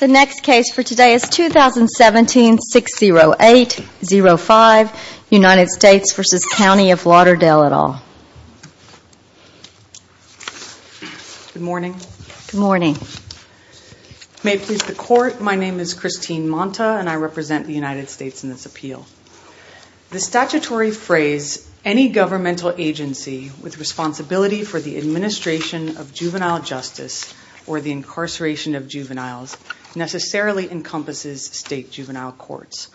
The next case for today is 2017-608-05 United States v. County of Lauderdale et al. Good morning. Good morning. May it please the Court, my name is Christine Monta and I represent the United States in this appeal. The statutory phrase, any governmental agency with responsibility for the administration of juvenile justice or the incarceration of juveniles necessarily encompasses state juvenile courts.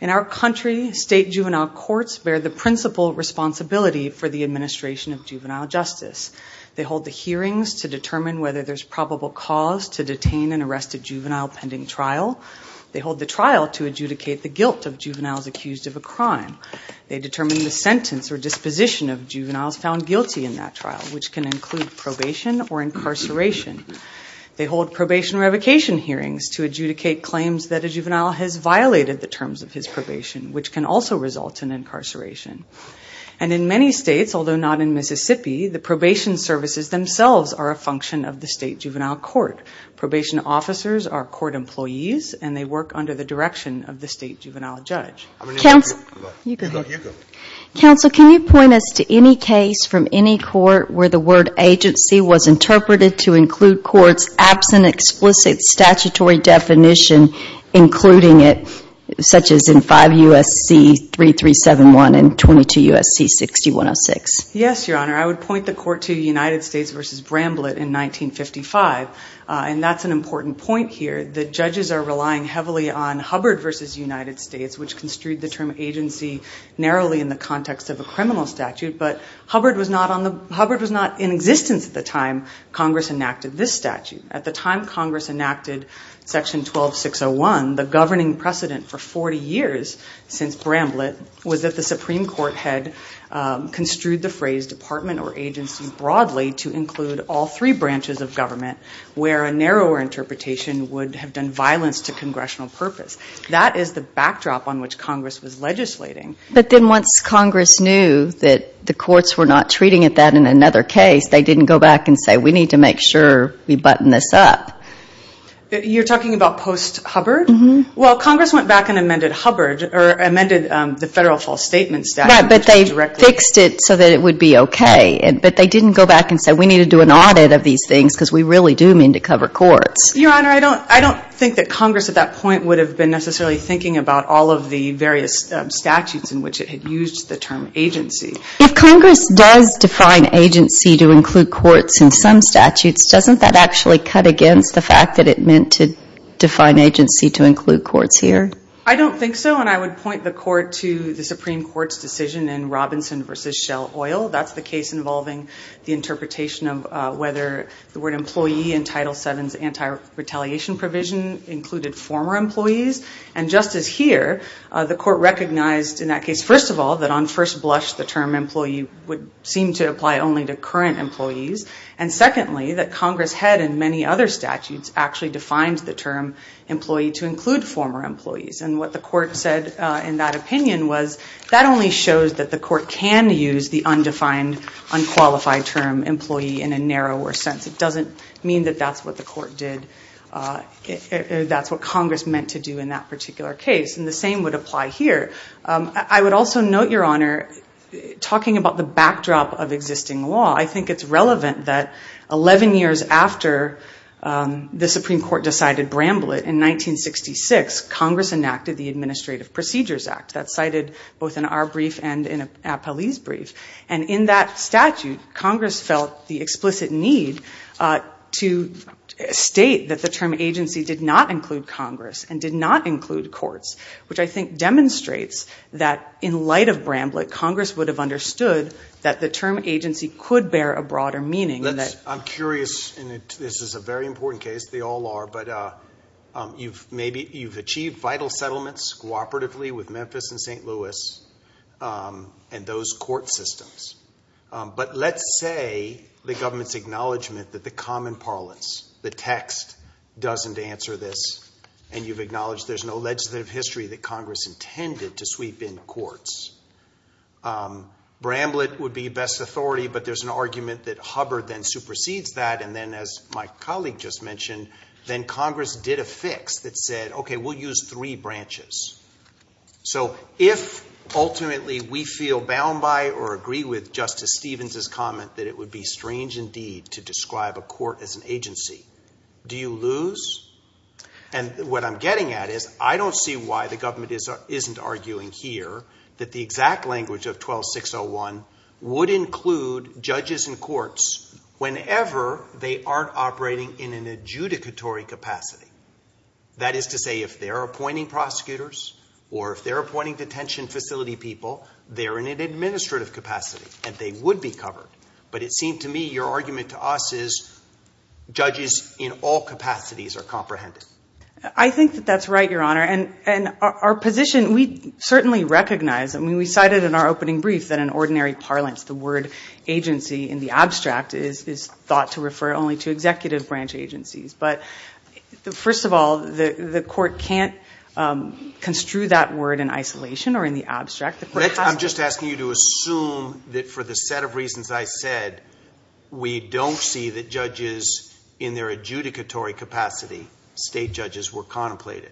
In our country, state juvenile courts bear the principal responsibility for the administration of juvenile justice. They hold the hearings to determine whether there's probable cause to detain an arrested juvenile pending trial. They hold the trial to adjudicate the guilt of juveniles accused of a crime. They determine the sentence or disposition of juveniles found guilty in that trial, which can include probation or incarceration. They hold probation revocation hearings to adjudicate claims that a juvenile has violated the terms of his probation, which can also result in incarceration. And in many states, although not in Mississippi, the probation services themselves are a function of the state juvenile court. Probation officers are court employees and they work under the direction of the state juvenile judge. Counsel, can you point us to any case from any court where the word agency was interpreted to include courts absent explicit statutory definition including it, such as in 5 U.S.C. 3371 and 22 U.S.C. 6106? Yes, Your Honor. I would point the court to United States v. Bramblett in 1955, and that's an important point here. The judges are relying heavily on Hubbard v. United States, which construed the term agency narrowly in the context of a criminal statute. But Hubbard was not in existence at the time Congress enacted this statute. At the time Congress enacted Section 12601, the governing precedent for 40 years since Bramblett was that the Supreme Court had construed the phrase department or agency broadly to include all three branches of government, where a narrower interpretation would have done violence to congressional purpose. That is the backdrop on which Congress was legislating. But then once Congress knew that the courts were not treating it that in another case, they didn't go back and say, we need to make sure we button this up. You're talking about post-Hubbard? Well, Congress went back and amended Hubbard, or amended the federal false statement statute. Right, but they fixed it so that it would be okay. But they didn't go back and say, we need to do an audit of these things because we really do mean to cover courts. Your Honor, I don't think that Congress at that point would have been necessarily thinking about all of the various statutes in which it had used the term agency. If Congress does define agency to include courts in some statutes, doesn't that actually cut against the fact that it meant to define agency to include courts here? I don't think so, and I would point the Court to the Supreme Court's decision in Robinson v. Shell Oil. That's the case involving the interpretation of whether the word employee in Title VII's anti-retaliation provision included former employees. And just as here, the Court recognized in that case, first of all, that on first blush, the term employee would seem to apply only to current employees. And secondly, that Congress had in many other statutes actually defined the term employee to include former employees. And what the Court said in that opinion was that only shows that the Court can use the undefined, unqualified term employee in a narrower sense. It doesn't mean that that's what the Court did, that's what Congress meant to do in that particular case. And the same would apply here. I would also note, Your Honor, talking about the backdrop of existing law, I think it's relevant that 11 years after the Supreme Court decided Bramblitt in 1966, Congress enacted the Administrative Procedures Act. That's cited both in our brief and in Appellee's brief. And in that statute, Congress felt the explicit need to state that the term agency did not include Congress and did not include courts, which I think demonstrates that in light of Bramblitt, Congress would have understood that the term agency could bear a broader meaning. I'm curious, and this is a very important case, they all are, but you've achieved vital settlements cooperatively with Memphis and St. Louis and those court systems. But let's say the government's acknowledgment that the common parlance, the text, doesn't answer this, and you've acknowledged there's no legislative history that Congress intended to sweep in courts. Bramblitt would be best authority, but there's an argument that Hubbard then supersedes that, and then, as my colleague just mentioned, then Congress did a fix that said, okay, we'll use three branches. So if ultimately we feel bound by or agree with Justice Stevens' comment that it would be strange indeed to describe a court as an agency, do you lose? And what I'm getting at is I don't see why the government isn't arguing here that the exact language of 12601 would include judges and courts whenever they aren't operating in an adjudicatory capacity. That is to say, if they're appointing prosecutors or if they're appointing detention facility people, they're in an administrative capacity and they would be covered. But it seemed to me your argument to us is judges in all capacities are comprehended. I think that that's right, Your Honor, and our position, we certainly recognize, I mean, we cited in our opening brief that in ordinary parlance the word agency in the abstract is thought to refer only to executive branch agencies. But first of all, the court can't construe that word in isolation or in the abstract. I'm just asking you to assume that for the set of reasons I said, we don't see that judges in their adjudicatory capacity, state judges, were contemplated.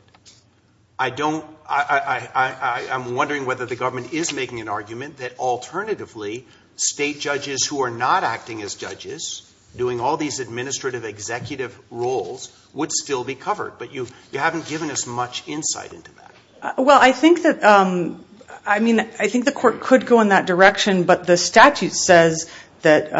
I don't, I'm wondering whether the government is making an argument that alternatively, state judges who are not acting as judges, doing all these administrative executive roles, would still be covered. But you haven't given us much insight into that. Well, I think that, I mean, I think the court could go in that direction, but the statute says that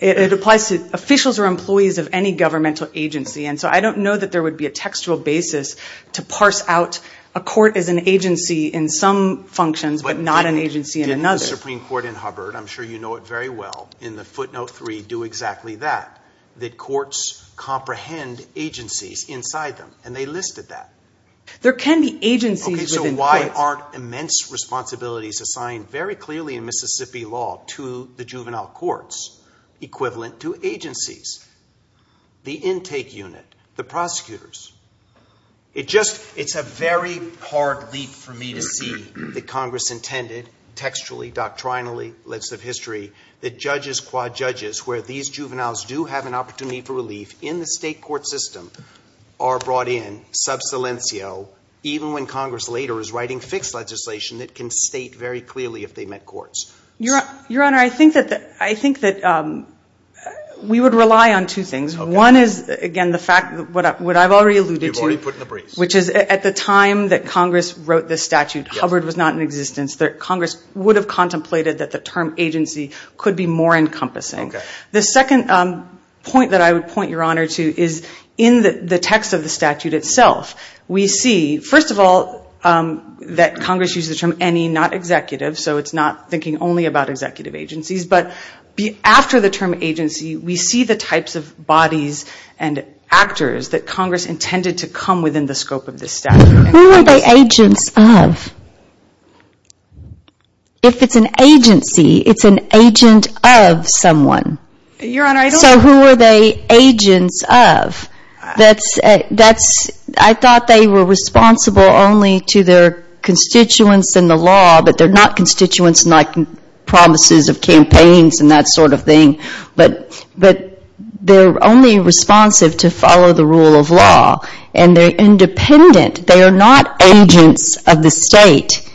it applies to officials or employees of any governmental agency. And so I don't know that there would be a textual basis to parse out a court as an agency in some functions but not an agency in another. Didn't the Supreme Court in Hubbard, I'm sure you know it very well, in the footnote three do exactly that, that courts comprehend agencies inside them. And they listed that. There can be agencies within courts. Okay, so why aren't immense responsibilities assigned very clearly in Mississippi law to the juvenile courts equivalent to agencies, the intake unit, the prosecutors? It just, it's a very hard leap for me to see that Congress intended, textually, doctrinally, legislative history, that judges, quad judges, where these juveniles do have an opportunity for relief in the state court system, are brought in, sub silencio, even when Congress later is writing fixed legislation that can state very clearly if they met courts. Your Honor, I think that we would rely on two things. One is, again, the fact, what I've already alluded to, which is at the time that Congress wrote this statute, Hubbard was not in existence. Congress would have contemplated that the term agency could be more encompassing. The second point that I would point Your Honor to is in the text of the statute itself. We see, first of all, that Congress used the term any, not executive, so it's not thinking only about executive agencies. But after the term agency, we see the types of bodies and actors that Congress intended to come within the scope of this statute. Who are they agents of? If it's an agency, it's an agent of someone. Your Honor, I don't... So who are they agents of? I thought they were responsible only to their constituents in the law, but they're not constituents in promises of campaigns and that sort of thing. But they're only responsive to follow the rule of law. And they're independent. They are not agents of the state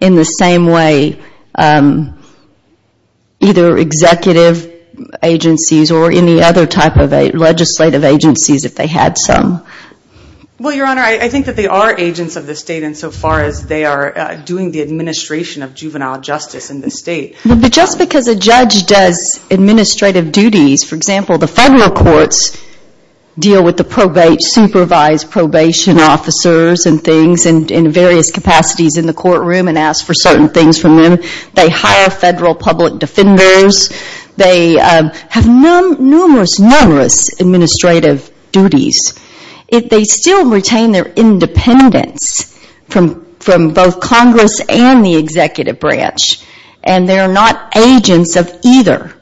in the same way either executive agencies or any other type of legislative agencies, if they had some. Well, Your Honor, I think that they are agents of the state insofar as they are doing the administration of juvenile justice in the state. But just because a judge does administrative duties, for example, the federal courts deal with the supervised probation officers and things in various capacities in the courtroom and ask for certain things from them. They hire federal public defenders. They have numerous, numerous administrative duties. They still retain their independence from both Congress and the executive branch. And they're not agents of either.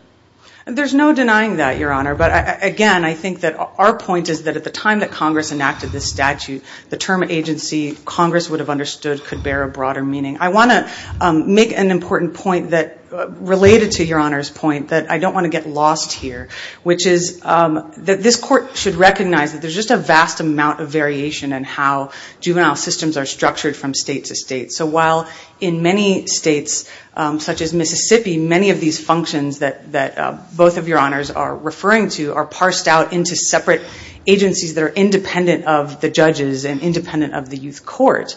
There's no denying that, Your Honor. But again, I think that our point is that at the time that Congress enacted this statute, the term agency, Congress would have understood, could bear a broader meaning. I want to make an important point related to Your Honor's point that I don't want to get lost here, which is that this court should recognize that there's just a vast amount of variation in how juvenile systems are structured from state to state. So while in many states, such as Mississippi, many of these functions that both of Your Honors are referring to are parsed out into separate agencies that are independent of the judges and independent of the youth court,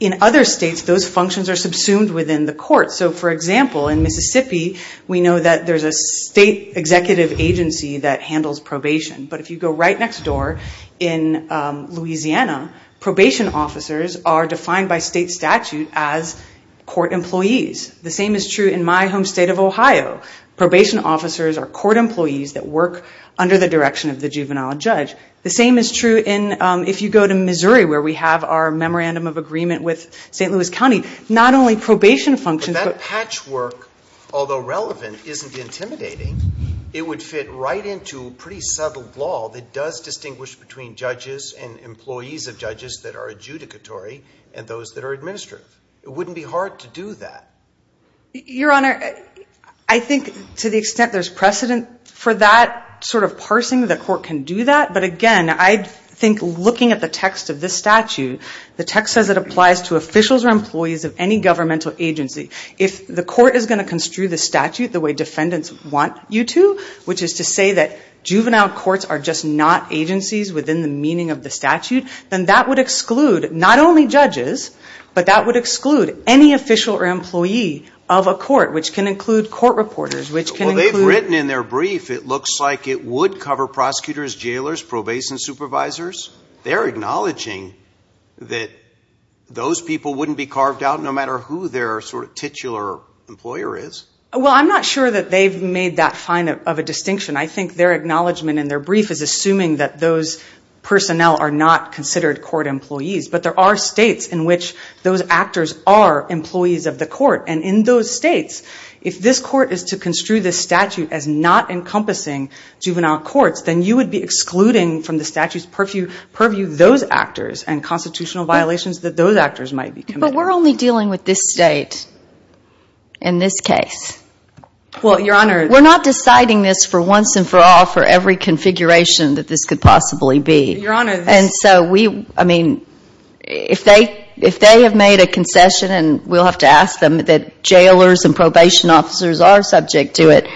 in other states those functions are subsumed within the court. So for example, in Mississippi, we know that there's a state executive agency that handles probation. But if you go right next door in Louisiana, probation officers are defined by state statute as court employees. The same is true in my home state of Ohio. Probation officers are court employees that work under the direction of the juvenile judge. The same is true if you go to Missouri, where we have our memorandum of agreement with St. Louis County. Not only probation functions, but that patchwork, although relevant, isn't intimidating. It would fit right into pretty subtle law that does distinguish between judges and employees of judges that are adjudicatory and those that are administrative. It wouldn't be hard to do that. Your Honor, I think to the extent there's precedent for that sort of parsing, the court can do that. But again, I think looking at the text of this statute, the text says it applies to officials or employees of any governmental agency. If the court is going to construe the statute the way defendants want you to, which is to say that juvenile courts are just not agencies within the meaning of the statute, then that would exclude not only judges, but that would exclude any official or employee of a court, which can include court reporters, which can include... They're acknowledging that those people wouldn't be carved out no matter who their sort of titular employer is. Well, I'm not sure that they've made that fine of a distinction. I think their acknowledgment in their brief is assuming that those personnel are not considered court employees. But there are states in which those actors are employees of the court. And in those states, if this court is to construe this statute as not encompassing juvenile courts, then you would be excluding from the statute's purview those actors and constitutional violations that those actors might be committing. But we're only dealing with this state in this case. We're not deciding this for once and for all for every configuration that this could possibly be. And so, I mean, if they have made a concession and we'll have to ask them that jailers and probation officers are subject to it,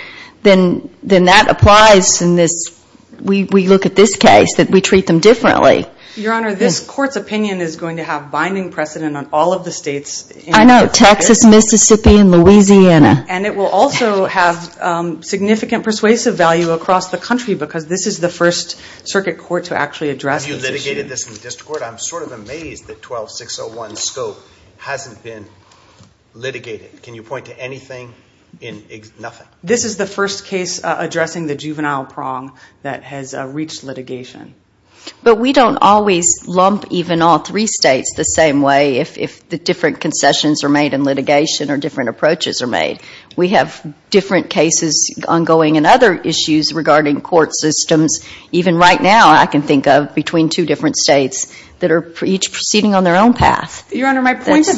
then that applies in this... We look at this case that we treat them differently. Your Honor, this court's opinion is going to have binding precedent on all of the states. I know. Texas, Mississippi, and Louisiana. And it will also have significant persuasive value across the country because this is the first circuit court to actually address this issue. Have you litigated this in the district court? I'm sort of amazed that 12601 scope hasn't been litigated. Can you point to anything in... nothing? This is the first case addressing the juvenile prong that has reached litigation. But we don't always lump even all three states the same way if the different concessions are made in litigation or different approaches are made. We have different cases ongoing and other issues regarding court systems. Even right now, I can think of between two different states that are each proceeding on their own path. Your Honor, my point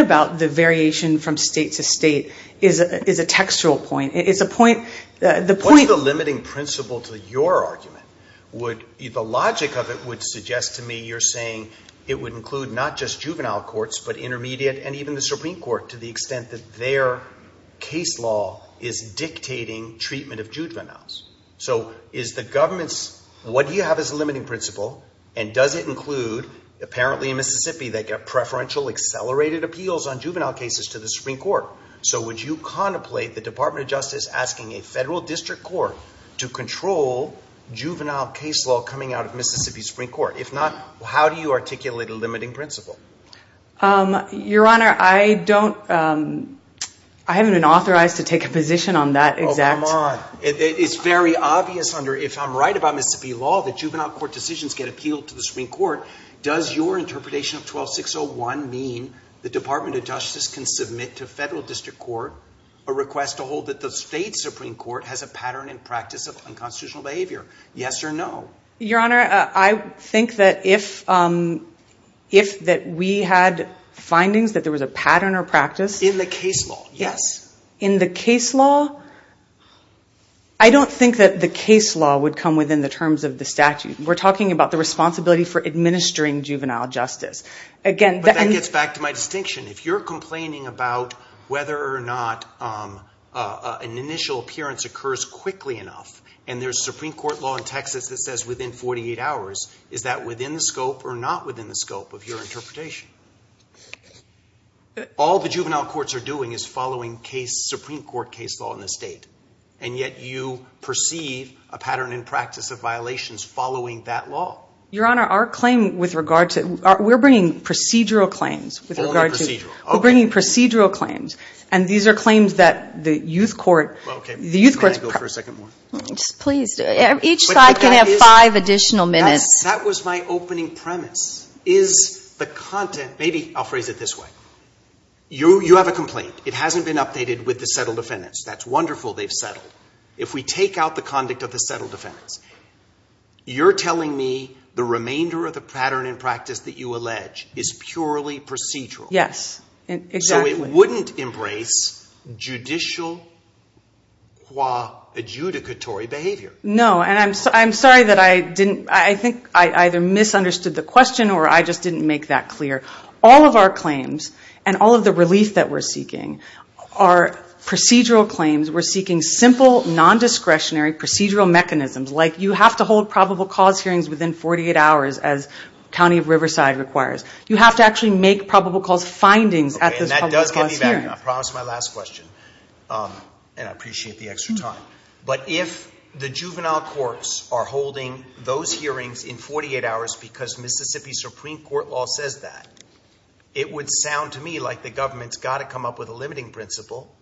about the variation from state to state is a textual point. What's the limiting principle to your argument? The logic of it would suggest to me you're saying it would include not just juvenile courts but intermediate and even the Supreme Court to the extent that their case law is dictating treatment of juveniles. What do you have as a limiting principle? And does it include, apparently in Mississippi, they get preferential accelerated appeals on juvenile cases to the Supreme Court? So would you contemplate the Department of Justice asking a federal district court to control juvenile case law coming out of Mississippi's Supreme Court? If not, how do you articulate a limiting principle? Your Honor, I haven't been authorized to take a position on that exact... Oh, come on. It's very obvious under, if I'm right about Mississippi law, that juvenile court decisions get appealed to the Supreme Court. Does your interpretation of 12601 mean the Department of Justice can submit to federal district court a request to hold that the state Supreme Court has a pattern and practice of unconstitutional behavior? Yes or no? Your Honor, I think that if we had findings that there was a pattern or practice... In the case law, yes. In the case law, I don't think that the case law would come within the terms of the statute. We're talking about the responsibility for administering juvenile justice. But that gets back to my distinction. If you're complaining about whether or not an initial appearance occurs quickly enough, and there's Supreme Court law in Texas that says within 48 hours, is that within the scope or not within the scope of your interpretation? All the juvenile courts are doing is following Supreme Court case law in the state, and yet you perceive a pattern and practice of violations following that law. Your Honor, our claim with regard to... We're bringing procedural claims with regard to... Only procedural. We're bringing procedural claims, and these are claims that the youth court... May I go for a second more? Please. Each side can have five additional minutes. That was my opening premise. Is the content... Maybe I'll phrase it this way. You have a complaint. It hasn't been updated with the settled defendants. That's wonderful they've settled. If we take out the conduct of the settled defendants, you're telling me the remainder of the pattern and practice that you allege is purely procedural. Yes, exactly. So it wouldn't embrace judicial qua adjudicatory behavior. No, and I'm sorry that I didn't... I think I either misunderstood the question or I just didn't make that clear. All of our claims and all of the relief that we're seeking are procedural claims. We're seeking simple, non-discretionary procedural mechanisms, like you have to hold probable cause hearings within 48 hours as County of Riverside requires. You have to actually make probable cause findings at those probable cause hearings. I promise my last question, and I appreciate the extra time. But if the juvenile courts are holding those hearings in 48 hours because Mississippi Supreme Court law says that, it would sound to me like the government's got to come up with a limiting principle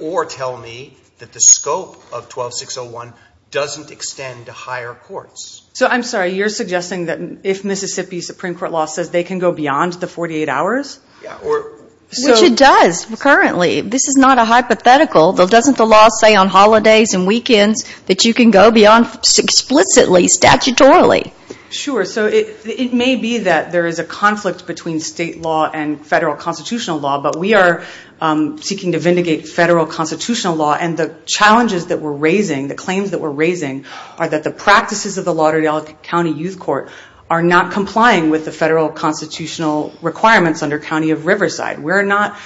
or tell me that the scope of 12601 doesn't extend to higher courts. So I'm sorry, you're suggesting that if Mississippi Supreme Court law says they can go beyond the 48 hours? Which it does currently. This is not a hypothetical, though doesn't the law say on holidays and weekends that you can go beyond explicitly statutorily? Sure, so it may be that there is a conflict between state law and federal constitutional law, but we are seeking to vindicate federal constitutional law. And the challenges that we're raising, the claims that we're raising, are that the practices of the Lauderdale County Youth Court are not complying with the federal constitutional requirements under County of Riverside. We're not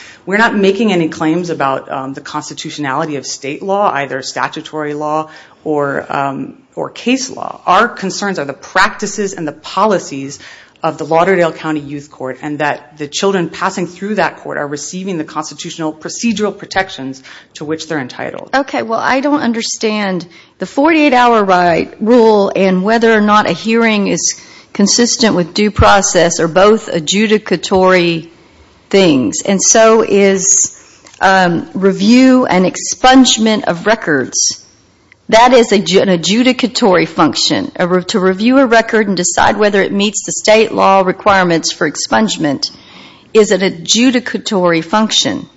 making any claims about the constitutionality of state law, either statutory law or case law. Our concerns are the practices and the policies of the Lauderdale County Youth Court and that the children passing through that court are receiving the constitutional procedural protections to which they're entitled. Okay, well I don't understand the 48-hour rule and whether or not a hearing is consistent with due process or both adjudicatory and constitutional. And so is review and expungement of records. That is an adjudicatory function. To review a record and decide whether it meets the state law requirements for expungement is an adjudicatory function,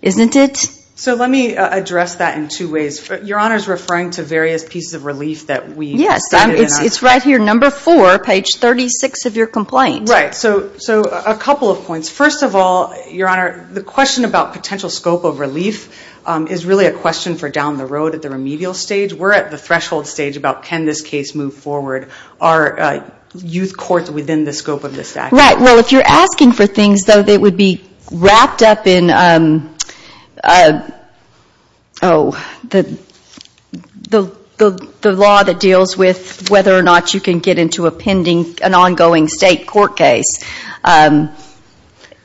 isn't it? So let me address that in two ways. Your Honor is referring to various pieces of relief that we stated in our... Yes, it's right here, number four, page 36 of your complaint. Right, so a couple of points. First of all, Your Honor, the question about potential scope of relief is really a question for down the road at the remedial stage. We're at the threshold stage about can this case move forward. Are youth courts within the scope of this statute? Right, well if you're asking for things that would be wrapped up in the law that deals with whether or not you can get into an ongoing state court case,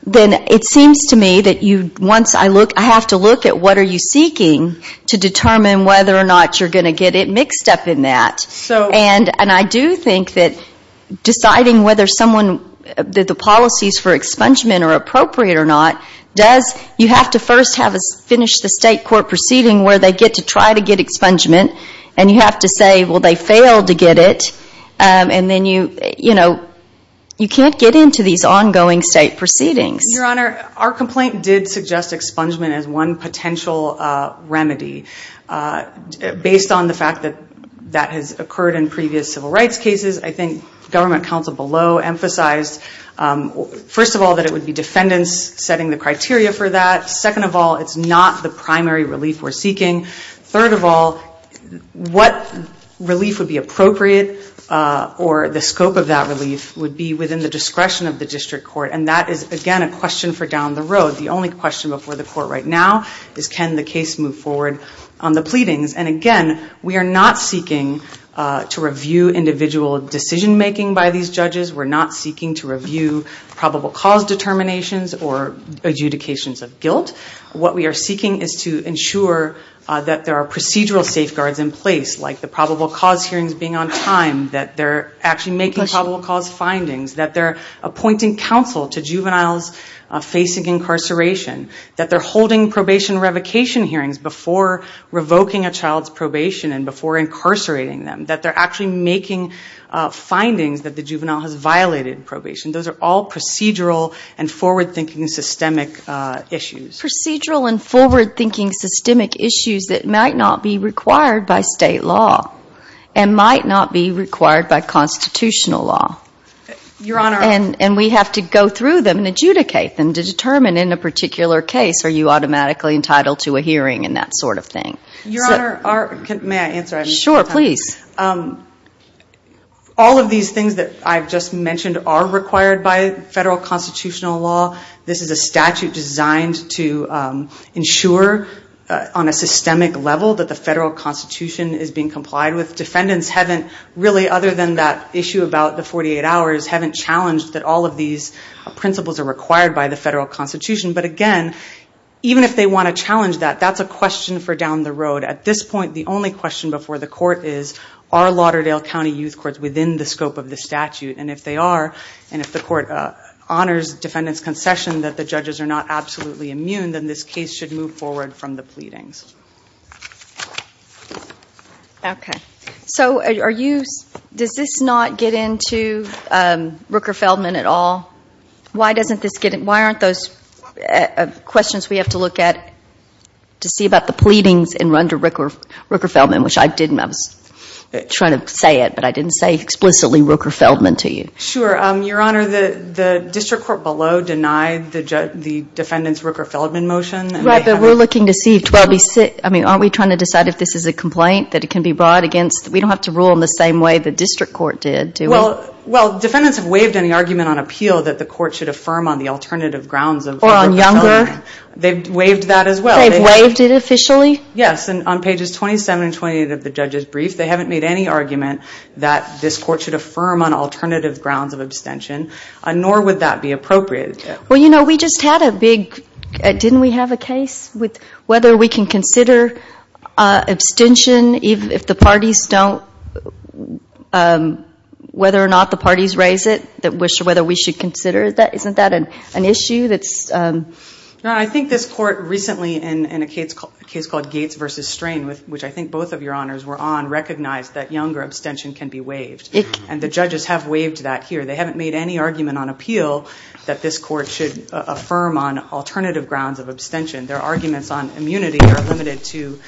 then it seems to me that I have to look at what are you seeking to determine whether or not you're going to get it mixed up in that. And I do think that deciding whether the policies for expungement are appropriate or not, you have to first finish the state court proceeding where they get to try to get expungement. And you have to say, well, they failed to get it. And then you can't get into these ongoing state proceedings. Your Honor, our complaint did suggest expungement as one potential remedy based on the fact that that has occurred. It occurred in previous civil rights cases. I think government counsel below emphasized, first of all, that it would be defendants setting the criteria for that. Second of all, it's not the primary relief we're seeking. Third of all, what relief would be appropriate or the scope of that relief would be within the discretion of the district court. And that is, again, a question for down the road. The only question before the court right now is can the case move forward on the pleadings. And again, we are not seeking to review individual decision making by these judges. We're not seeking to review probable cause determinations or adjudications of guilt. What we are seeking is to ensure that there are procedural safeguards in place like the probable cause hearings being on time, that they're actually making probable cause findings, that they're appointing counsel to juveniles facing incarceration, that they're holding probation revocation hearings before revoking a child's probation and before incarcerating them, that they're actually making findings that the juvenile has violated probation. Those are all procedural and forward-thinking systemic issues. Procedural and forward-thinking systemic issues that might not be required by state law and might not be required by constitutional law. And we have to go through them and adjudicate them to determine in a particular case, are you automatically entitled to a hearing and that sort of thing. All of these things that I've just mentioned are required by federal constitutional law. This is a statute designed to ensure on a systemic level that the federal constitution is being complied with. Defendants haven't really, other than that issue about the 48 hours, haven't challenged that all of these principles are required by the federal constitution. But again, even if they want to challenge that, that's a question for down the road. At this point, the only question before the court is, are Lauderdale County Youth Courts within the scope of the statute? And if they are, and if the court honors defendants' concession that the judges are not absolutely immune, then this case should move forward from the pleadings. Okay. So are you, does this not get into Rooker-Feldman at all? Why aren't those questions we have to look at to see about the pleadings and run to Rooker-Feldman, which I didn't, I was trying to say it, but I didn't say explicitly Rooker-Feldman to you. Sure. Your Honor, the district court below denied the defendants' Rooker-Feldman motion. Right, but we're looking to see, I mean, aren't we trying to decide if this is a complaint that it can be brought against, we don't have to rule in the same way the district court did, do we? Well, defendants have waived any argument on appeal that the court should affirm on the alternative grounds of Rooker-Feldman. Or on younger? They've waived that as well. They've waived it officially? Yes, and on pages 27 and 28 of the judge's brief, they haven't made any argument that this court should affirm on alternative grounds of abstention, nor would that be appropriate. Well, you know, we just had a big, didn't we have a case with whether we can consider abstention if the parties don't, whether or not the parties raise it, whether we should consider that, isn't that an issue that's... No, I think this court recently in a case called Gates v. Strain, which I think both of your honors were on, recognized that younger abstention can be waived, and the judges have waived that here. They haven't made any argument on appeal that this court should affirm on alternative grounds of abstention. Their arguments on immunity are limited to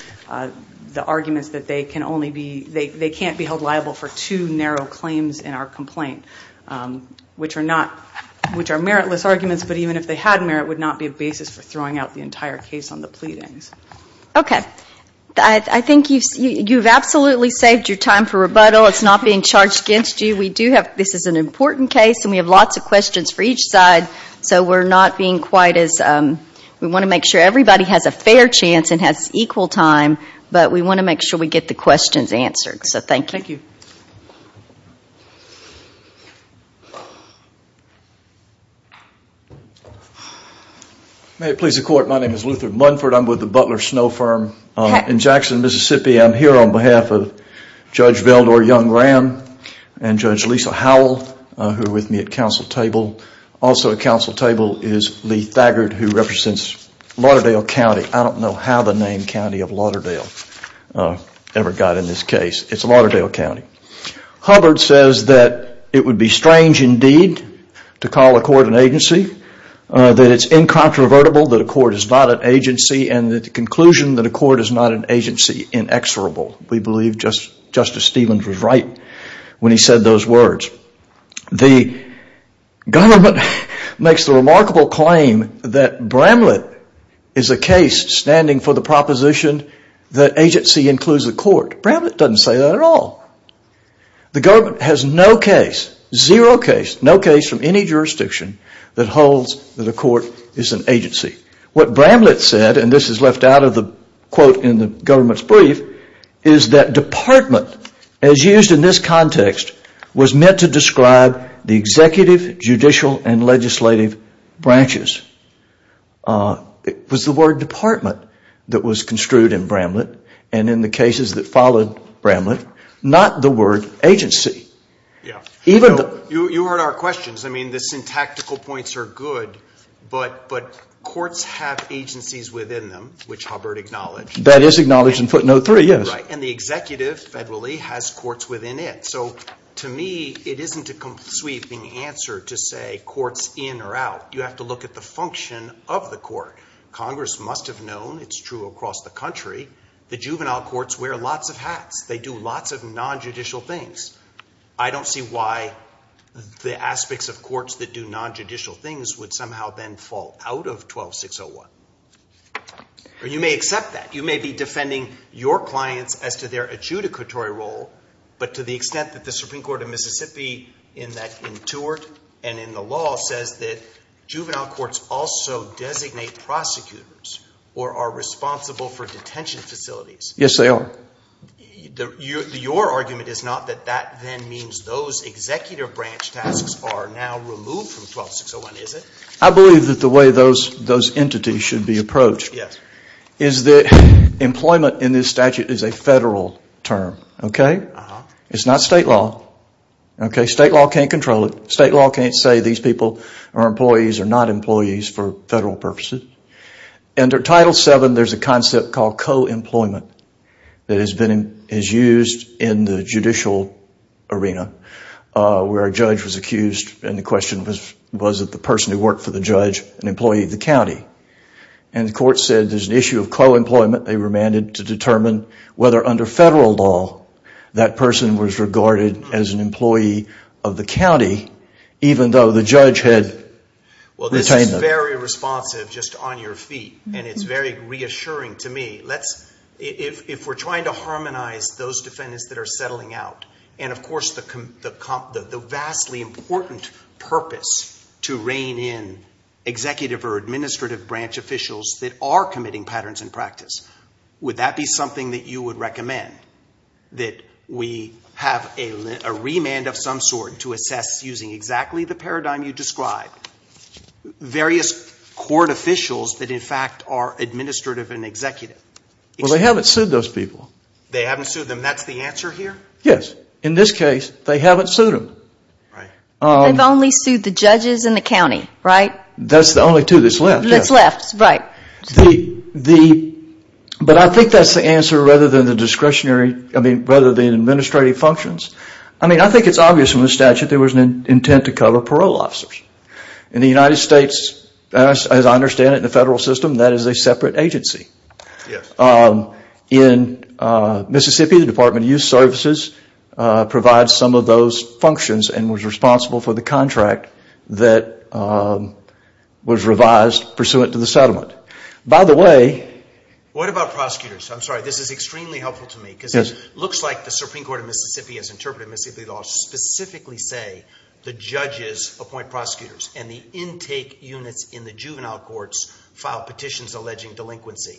the arguments that they can only be, they can't be held liable for two narrow claims in our complaint, which are meritless arguments, but even if they had merit, would not be a basis for throwing out the entire case on the pleadings. Okay. I think you've absolutely saved your time for rebuttal. It's not being charged against you. We do have, this is an important case, and we have lots of questions for each side, so we're not being quite as, we want to make sure everybody has a fair chance and has equal time, but we want to make sure we get the questions answered. So thank you. May it please the court, my name is Luther Munford. I'm with the Butler Snow Firm in Jackson, Mississippi. I'm here on behalf of Judge Veldor Young-Rand and Judge Lisa Howell, who are with me at council table. Also at council table is Lee Thagard, who represents Lauderdale County. I don't know how the name county of Lauderdale ever got in this case. It's Lauderdale County. Hubbard says that it would be strange indeed to call a court an agency, that it's incontrovertible that a court is not an agency, and the conclusion that a court is not an agency inexorable. We believe Justice Stevens was right when he said those words. The government makes the remarkable claim that Bramlett is a case standing for the proposition that agency includes the court. Bramlett doesn't say that at all. The government has no case, zero case, no case from any jurisdiction that holds that a court is an agency. What Bramlett said, and this is left out of the quote in the government's brief, is that department, as used in this context, was meant to describe the executive, judicial, and legislative branches. It was the word department that was construed in Bramlett, and in the cases that followed Bramlett, not the word agency. You heard our questions. I mean, the syntactical points are good, but courts have agencies within them, which Hubbard acknowledged. That is acknowledged in footnote three, yes. And the executive, federally, has courts within it. So to me, it isn't a sweeping answer to say courts in or out. You have to look at the function of the court. Congress must have known. It's true across the country. The juvenile courts wear lots of hats. They do lots of nonjudicial things. I don't see why the aspects of courts that do nonjudicial things would somehow then fall out of 12601. You may accept that. You may be defending your clients as to their adjudicatory role, but to the extent that the Supreme Court of Mississippi in that, in Tewart and in the law, says that juvenile courts also designate prosecutors or are responsible for detention facilities. Yes, they are. Your argument is not that that then means those executive branch tasks are now removed from 12601, is it? I believe that the way those entities should be approached is that employment in this statute is a federal term. It's not state law. State law can't control it. State law can't say these people are employees or not employees for federal purposes. Under Title VII, there is a concept called co-employment that is used in the judicial arena where a judge was accused and the question was, was it the person who worked for the judge, an employee of the county? And the court said there's an issue of co-employment. They were mandated to determine whether under federal law that person was regarded as an employee of the county, even though the judge had retained them. Well, this is very responsive, just on your feet, and it's very reassuring to me. If we're trying to harmonize those defendants that are settling out, and of course the vastly important purpose to rein in executive or administrative branch officials that are committing patterns in practice, would that be something that you would recommend, that we have a remand of some sort to assess using exactly the paradigm you described, various court officials that in fact are administrative and executive? Well, they haven't sued those people. They haven't sued them. That's the answer here? Yes. In this case, they haven't sued them. They've only sued the judges and the county, right? That's the only two that's left. That's left, right. But I think that's the answer rather than the discretionary, I mean, rather than administrative functions. I mean, I think it's obvious from the statute there was an intent to cover parole officers. In the United States, as I understand it in the federal system, that is a separate agency. In Mississippi, the Department of Youth Services provides some of those functions and was responsible for the contract that was revised pursuant to the settlement. What about prosecutors? I'm sorry, this is extremely helpful to me. Because it looks like the Supreme Court of Mississippi, as interpreted in Mississippi law, specifically say the judges appoint prosecutors and the intake units in the juvenile courts file petitions alleging delinquency.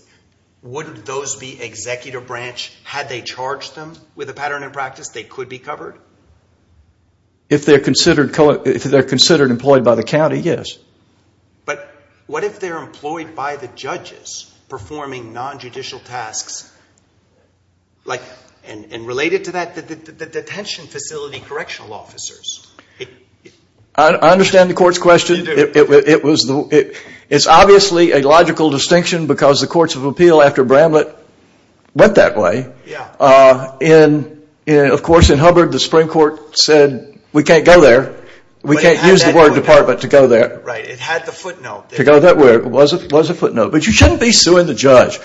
Wouldn't those be executive branch? Had they charged them with a pattern in practice, they could be covered? If they're considered employed by the county, yes. But what if they're employed by the judges performing nonjudicial tasks and related to that, the detention facility correctional officers? I understand the court's question. It's obviously a logical distinction because the courts of appeal after Bramlett went that way. Of course, in Hubbard, the Supreme Court said we can't go there. We can't use the word department to go there. It had the footnote. But you shouldn't be suing the judge.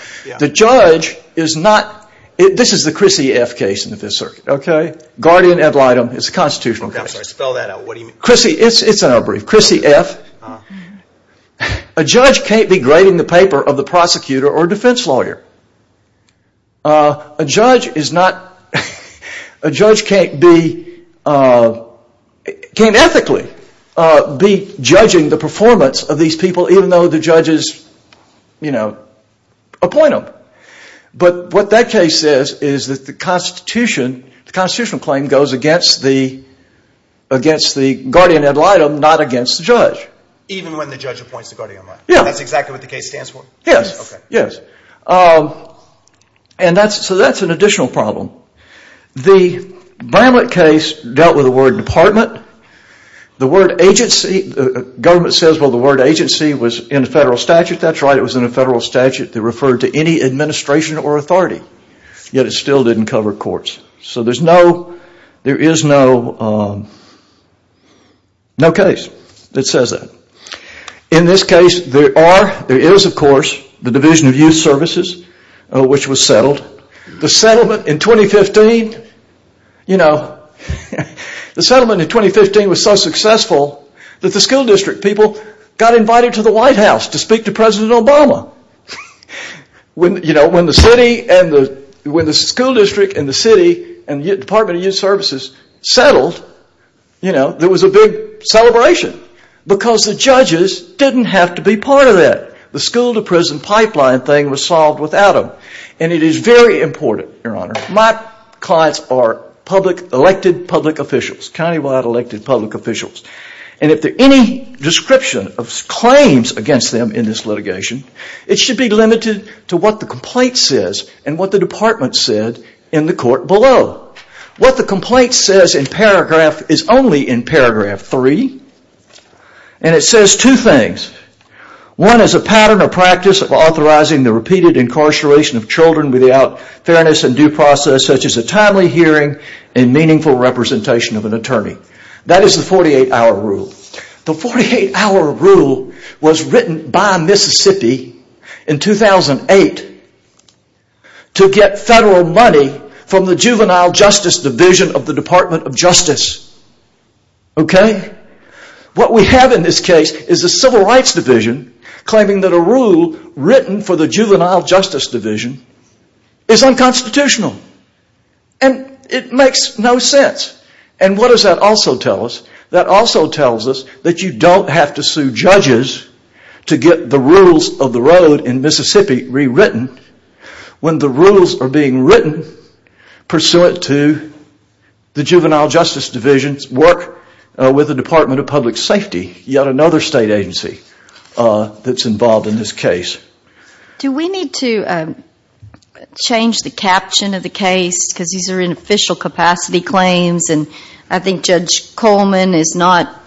This is the Chrissy F. case in the Fifth Circuit. Guardian ad litem. It's a constitutional case. It's in our brief. Chrissy F. A judge can't be grading the paper of the prosecutor or defense lawyer. A judge can't ethically be judging the performance of these people. Even though the judges appoint them. But what that case says is that the constitutional claim goes against the guardian ad litem, not against the judge. Even when the judge appoints the guardian ad litem? Yes. That's exactly what the case stands for? Yes. So that's an additional problem. The Bramlett case dealt with the word department. The word agency. The government says the word agency was in a federal statute. That's right. It was in a federal statute that referred to any administration or authority. Yet it still didn't cover courts. So there is no case that says that. In this case, there is, of course, the Division of Youth Services, which was settled. The settlement in 2015 was so successful that the school district people got invited to the White House to speak to President Obama. When the school district and the city and the Department of Youth Services settled, there was a big celebration. Because the judges didn't have to be part of it. The school to prison pipeline thing was solved without them. It is very important, Your Honor. My clients are elected public officials, countywide elected public officials. If there is any description of claims against them in this litigation, it should be limited to what the complaint says and what the department said in the court below. What the complaint says in paragraph is only in paragraph 3. It says two things. One is a pattern or practice of authorizing the repeated incarceration of children without fairness and due process such as a timely hearing and meaningful representation of an attorney. That is the 48-hour rule. The 48-hour rule was written by Mississippi in 2008 to get federal money from the Juvenile Justice Division of the Department of Justice. What we have in this case is the Civil Rights Division claiming that a rule written for the Juvenile Justice Division is unconstitutional. It makes no sense. What does that also tell us? That also tells us that you don't have to sue judges to get the rules of the road in Mississippi rewritten. When the rules are being written pursuant to the Juvenile Justice Division's work with the Department of Public Safety, yet another state agency that is involved in this case. Do we need to change the caption of the case? These are inofficial capacity claims. I think Judge Coleman is not.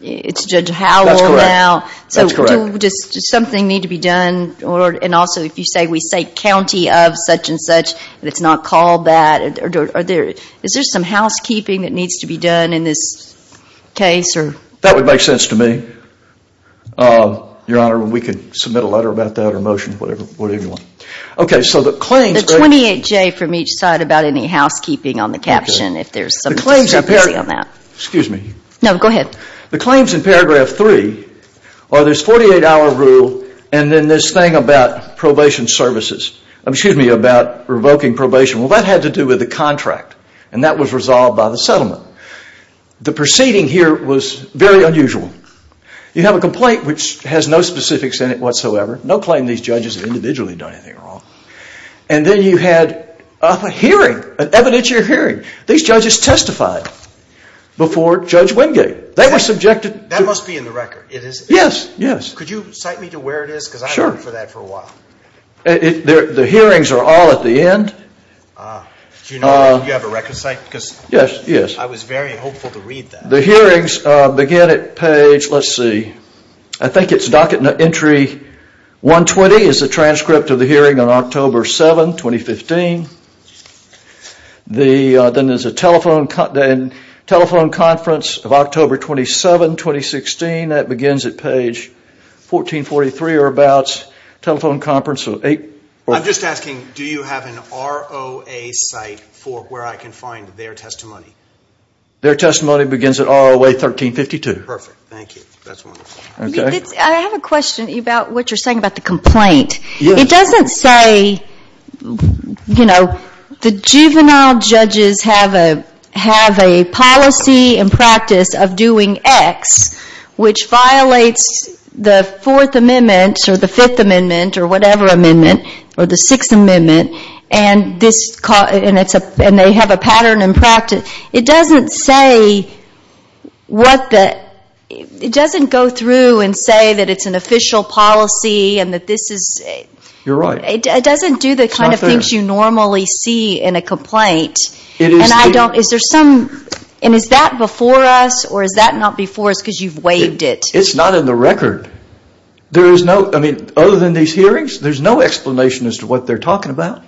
It is Judge Howell now. Does something need to be done? Also, if you say we say county of such and such, it is not called that. Is there some housekeeping that needs to be done in this case? That would make sense to me. Your Honor, we could submit a letter about that or a motion. The 28-J from each side about any housekeeping on the caption, if there is some consistency on that. No, go ahead. The claims in paragraph 3 are this 48-hour rule and then this thing about probation services. Excuse me, about revoking probation. Well, that had to do with the contract and that was resolved by the settlement. The proceeding here was very unusual. You have a complaint which has no specifics in it whatsoever. No claim these judges have individually done anything wrong. And then you had a hearing, an evidentiary hearing. These judges testified before Judge Wingate. That must be in the record. Yes, yes. Could you cite me to where it is because I have been looking for that for a while. The hearings are all at the end. Do you have a record site? Yes, yes. I was very hopeful to read that. The hearings begin at page, let's see. I think it is docket entry 120 is the transcript of the hearing on October 7, 2015. Then there is a telephone conference of October 27, 2016. That begins at page 1443 or about. I am just asking do you have an ROA site for where I can find their testimony? Their testimony begins at ROA 1352. Perfect. Thank you. That is wonderful. I have a question about what you are saying about the complaint. It doesn't say, you know, the juvenile judges have a policy and practice of doing X which violates the Fourth Amendment or the Fifth Amendment or whatever amendment or the Sixth Amendment and they have a pattern and practice. It doesn't go through and say that it is an official policy. You are right. It doesn't do the kind of things you normally see in a complaint. Is that before us or is that not before us because you have waived it? It is not in the record. Other than these hearings, there is no explanation as to what they are talking about.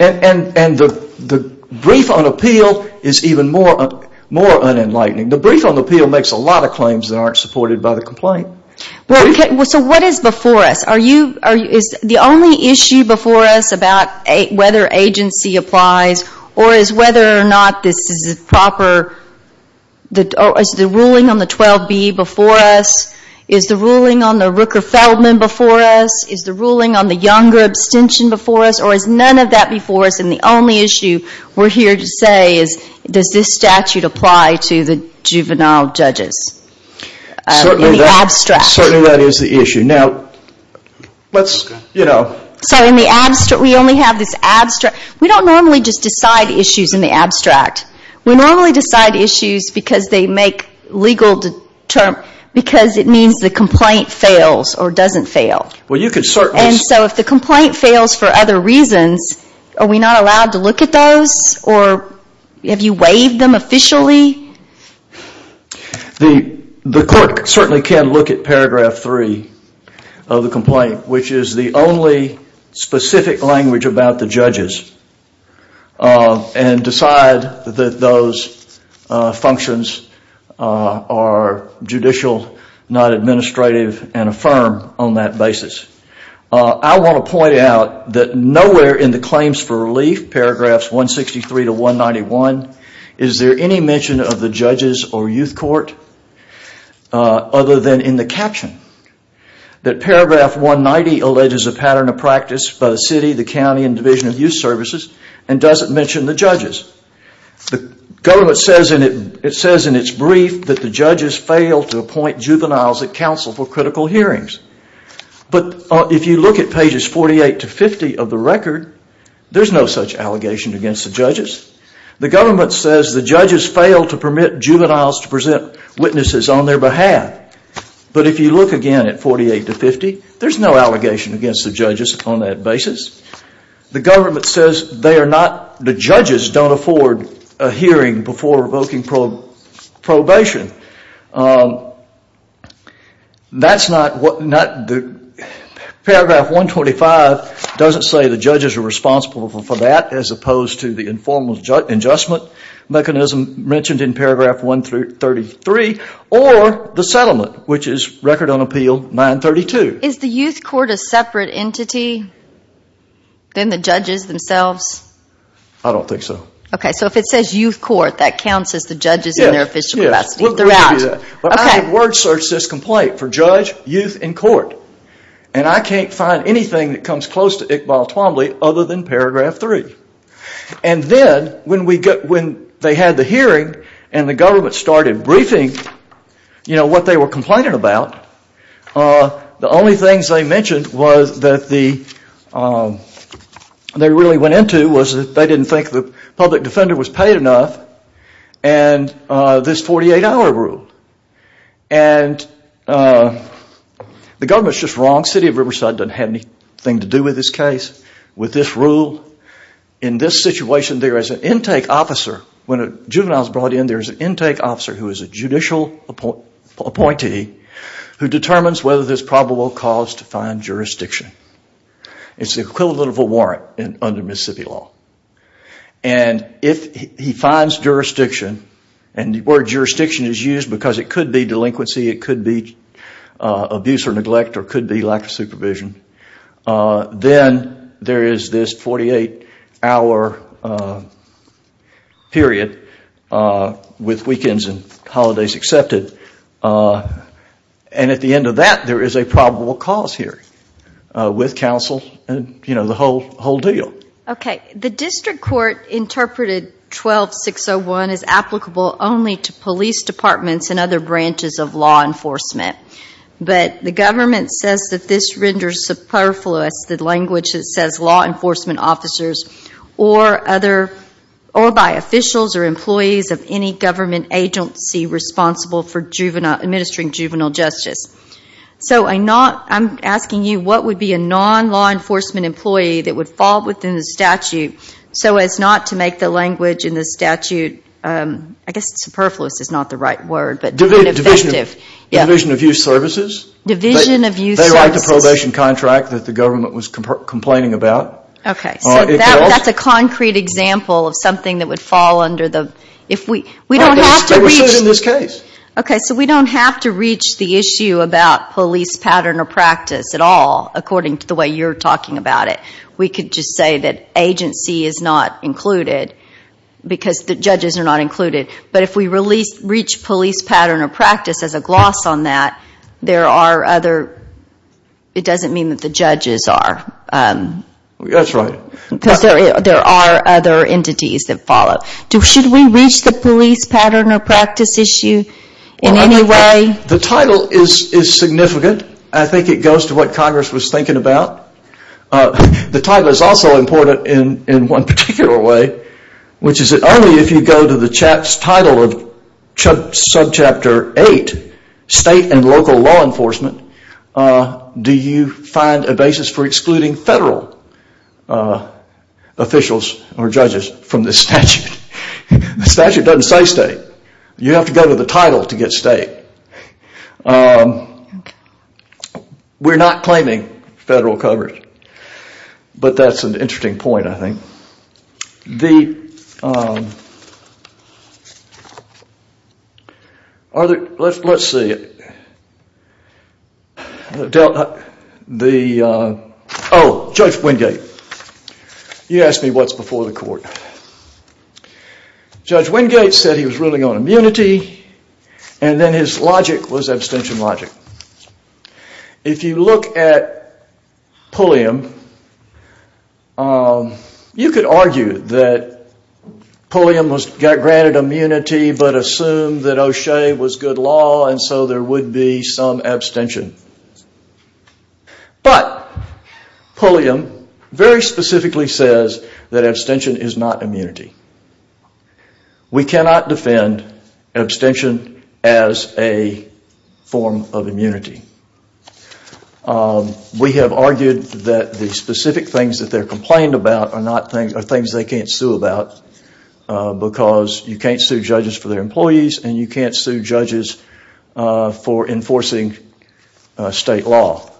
And the brief on appeal is even more unenlightening. The brief on appeal makes a lot of claims that aren't supported by the complaint. So what is before us? Is the only issue before us about whether agency applies or is whether or not this is a proper, is the ruling on the 12B before us? Is the ruling on the Rooker-Feldman before us? Is the ruling on the Younger abstention before us or is none of that before us? And the only issue we're here to say is, does this statute apply to the juvenile judges? In the abstract. Certainly that is the issue. Now, let's, you know. So in the abstract, we only have this abstract. We don't normally just decide issues in the abstract. We normally decide issues because they make legal, because it means the complaint fails or doesn't fail. Well, you could certainly. And so if the complaint fails for other reasons, are we not allowed to look at those? Or have you waived them officially? The court certainly can look at paragraph three of the complaint, which is the only specific language about the judges, and decide that those functions are judicial, not administrative, and affirm on that basis. I want to point out that nowhere in the claims for relief, paragraphs 163 to 191, is there any mention of the judges or youth court other than in the caption. That paragraph 190 alleges a pattern of practice by the city, the county, and division of youth services, and doesn't mention the judges. The government says in its brief that the judges fail to appoint juveniles at council for critical hearings. But if you look at pages 48 to 50 of the record, there's no such allegation against the judges. The government says the judges fail to permit juveniles to present witnesses on their behalf. But if you look again at 48 to 50, there's no allegation against the judges on that basis. The government says the judges don't afford a hearing before revoking probation. Paragraph 125 doesn't say the judges are responsible for that, as opposed to the informal adjustment mechanism mentioned in paragraph 133, or the settlement, which is Record on Appeal 932. Is the youth court a separate entity than the judges themselves? I don't think so. Okay, so if it says youth court, that counts as the judges in their official capacity throughout. I have word searched this complaint for judge, youth, and court, and I can't find anything that comes close to Iqbal Twombly other than paragraph 3. And then when they had the hearing and the government started briefing what they were complaining about, the only things they mentioned that they really went into was that they didn't think the public defender was paid enough, and this 48-hour rule. The government is just wrong. The city of Riverside doesn't have anything to do with this case, with this rule. In this situation, there is an intake officer. When a juvenile is brought in, there is an intake officer, who is a judicial appointee, who determines whether there is probable cause to find jurisdiction. It's the equivalent of a warrant under Mississippi law. And if he finds jurisdiction, and the word jurisdiction is used because it could be delinquency, it could be abuse or neglect, or it could be lack of supervision, then there is this 48-hour period with weekends and holidays accepted. And at the end of that, there is a probable cause here, with counsel and the whole deal. Okay. The district court interpreted 12601 as applicable only to police departments and other branches of law enforcement. But the government says that this renders superfluous the language that says law enforcement officers, or by officials or employees of any government agency responsible for administering juvenile justice. So I'm asking you, what would be a non-law enforcement employee that would fall within the statute so as not to make the language in the statute, I guess superfluous is not the right word, but ineffective. Division of use services. Division of use services. They write the probation contract that the government was complaining about. Okay. So that's a concrete example of something that would fall under the, if we, we don't have to reach. They were sued in this case. Okay, so we don't have to reach the issue about police pattern or practice at all, according to the way you're talking about it. We could just say that agency is not included because the judges are not included. But if we reach police pattern or practice as a gloss on that, there are other, it doesn't mean that the judges are. That's right. Because there are other entities that follow. Should we reach the police pattern or practice issue in any way? The title is significant. I think it goes to what Congress was thinking about. The title is also important in one particular way, which is that only if you go to the title of subchapter 8, state and local law enforcement, do you find a basis for excluding federal officials or judges from this statute. The statute doesn't say state. You have to go to the title to get state. We're not claiming federal coverage. But that's an interesting point, I think. The other, let's see it. Oh, Judge Wingate. You asked me what's before the court. Judge Wingate said he was ruling on immunity, and then his logic was abstention logic. If you look at Pulliam, you could argue that Pulliam got granted immunity, but assumed that O'Shea was good law, and so there would be some abstention. But Pulliam very specifically says that abstention is not immunity. We cannot defend abstention as a form of immunity. We have argued that the specific things that they're complained about are things they can't sue about, because you can't sue judges for their employees, and you can't sue judges for enforcing state law.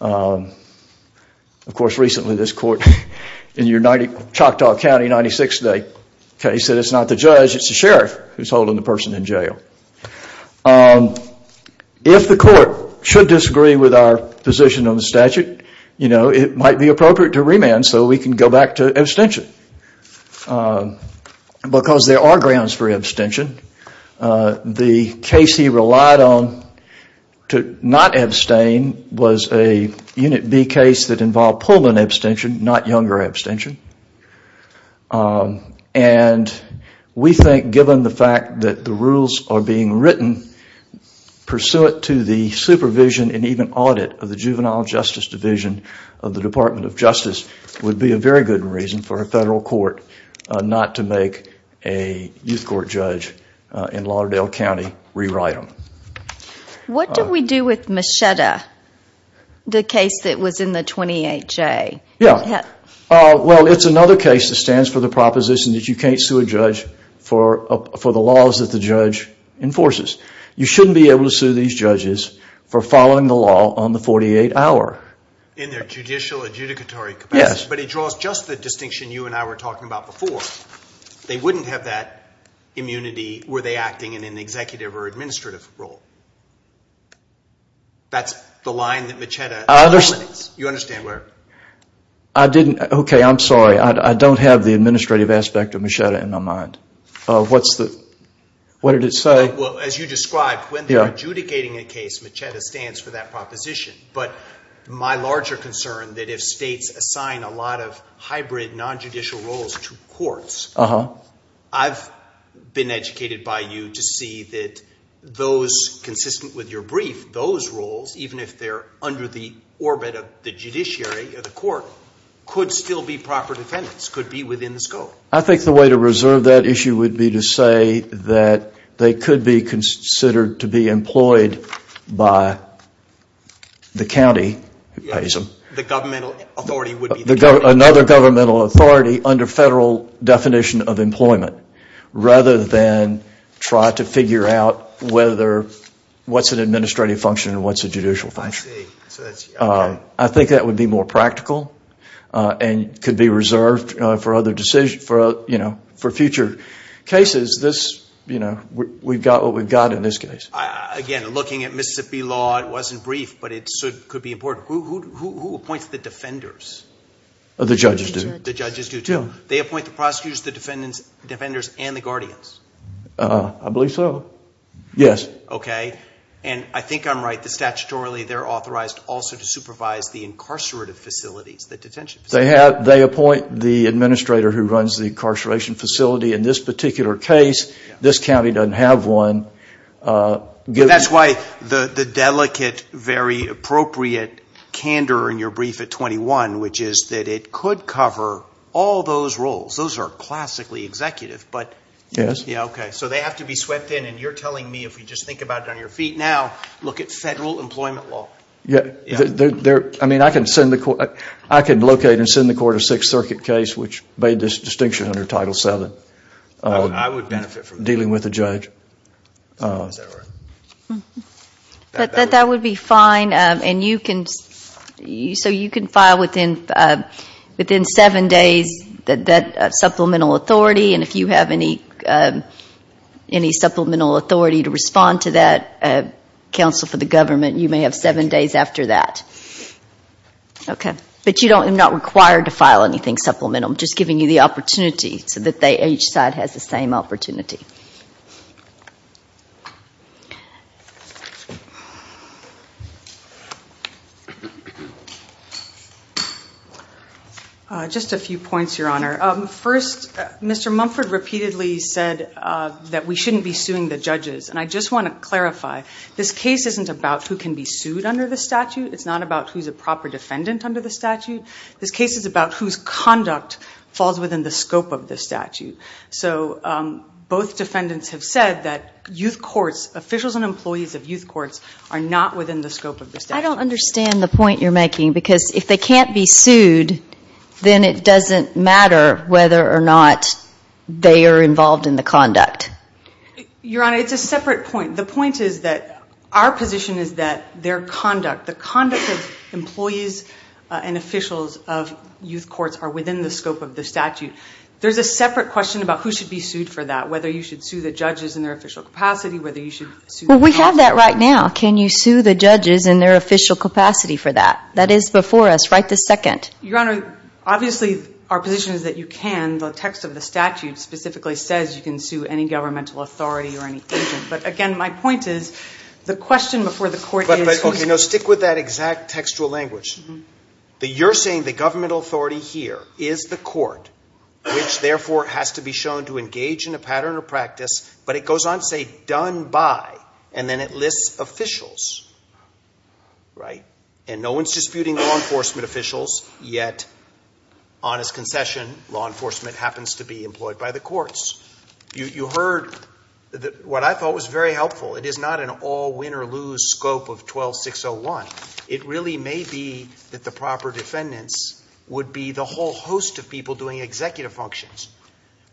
Of course, recently this court in Choctaw County, 96, said it's not the judge, it's the sheriff who's holding the person in jail. If the court should disagree with our position on the statute, it might be appropriate to remand so we can go back to abstention. Because there are grounds for abstention. The case he relied on to not abstain was a Unit B case that involved Pulliam abstention, not Younger abstention. And we think, given the fact that the rules are being written, pursuant to the supervision and even audit of the Juvenile Justice Division of the Department of Justice, would be a very good reason for a federal court not to make a youth court judge in Lauderdale County rewrite them. What do we do with Machetta, the case that was in the 28J? Yeah. Well, it's another case that stands for the proposition that you can't sue a judge for the laws that the judge enforces. You shouldn't be able to sue these judges for following the law on the 48-hour. In their judicial adjudicatory capacity. Yes. But it draws just the distinction you and I were talking about before. They wouldn't have that immunity were they acting in an executive or administrative role. That's the line that Machetta eliminates. I understand. You understand where? I didn't. Okay, I'm sorry. I don't have the administrative aspect of Machetta in my mind. What's the, what did it say? Well, as you described, when they're adjudicating a case, Machetta stands for that proposition. But my larger concern that if states assign a lot of hybrid non-judicial roles to courts, I've been educated by you to see that those consistent with your brief, those roles, even if they're under the orbit of the judiciary or the court, could still be proper defendants, could be within the scope. I think the way to reserve that issue would be to say that they could be considered to be employed by the county. The governmental authority would be the county. Another governmental authority under federal definition of employment rather than try to figure out whether what's an administrative function and what's a judicial function. I see. So that's, okay. I think that would be more practical and could be reserved for other decision, for future cases. This, you know, we've got what we've got in this case. Again, looking at Mississippi law, it wasn't brief, but it could be important. Who appoints the defenders? The judges do. The judges do, too. They appoint the prosecutors, the defenders, and the guardians? I believe so. Yes. Okay. And I think I'm right that statutorily they're authorized also to supervise the incarcerative facilities, the detention facilities. They appoint the administrator who runs the incarceration facility. In this particular case, this county doesn't have one. That's why the delicate, very appropriate candor in your brief at 21, which is that it could cover all those roles. Those are classically executive. Yes. Yeah, okay. So they have to be swept in, and you're telling me, if you just think about it on your feet now, look at federal employment law. Yeah. I mean, I could locate and send the court a Sixth Circuit case I would benefit from that. Dealing with a judge. Is that right? That would be fine. So you can file within seven days that supplemental authority, and if you have any supplemental authority to respond to that, counsel for the government, you may have seven days after that. Okay. But you're not required to file anything supplemental. I'm just giving you the opportunity so that each side has the same opportunity. Just a few points, Your Honor. First, Mr. Mumford repeatedly said that we shouldn't be suing the judges, and I just want to clarify. This case isn't about who can be sued under the statute. It's not about who's a proper defendant under the statute. This case is about whose conduct falls within the scope of the statute. So both defendants have said that youth courts, officials and employees of youth courts, are not within the scope of the statute. I don't understand the point you're making, because if they can't be sued, then it doesn't matter whether or not they are involved in the conduct. Your Honor, it's a separate point. The point is that our position is that their conduct, the conduct of employees and officials of youth courts, are within the scope of the statute. There's a separate question about who should be sued for that, whether you should sue the judges in their official capacity, whether you should sue the prosecutors. Well, we have that right now. Can you sue the judges in their official capacity for that? That is before us. Right this second. Your Honor, obviously our position is that you can. The text of the statute specifically says you can sue any governmental authority or any agent. But, again, my point is the question before the court is who should be sued. Okay. No, stick with that exact textual language. You're saying the governmental authority here is the court, which therefore has to be shown to engage in a pattern or practice, but it goes on to say done by, and then it lists officials, right? And no one is disputing law enforcement officials, yet on its concession law enforcement happens to be employed by the courts. You heard what I thought was very helpful. It is not an all win or lose scope of 12601. It really may be that the proper defendants would be the whole host of people doing executive functions,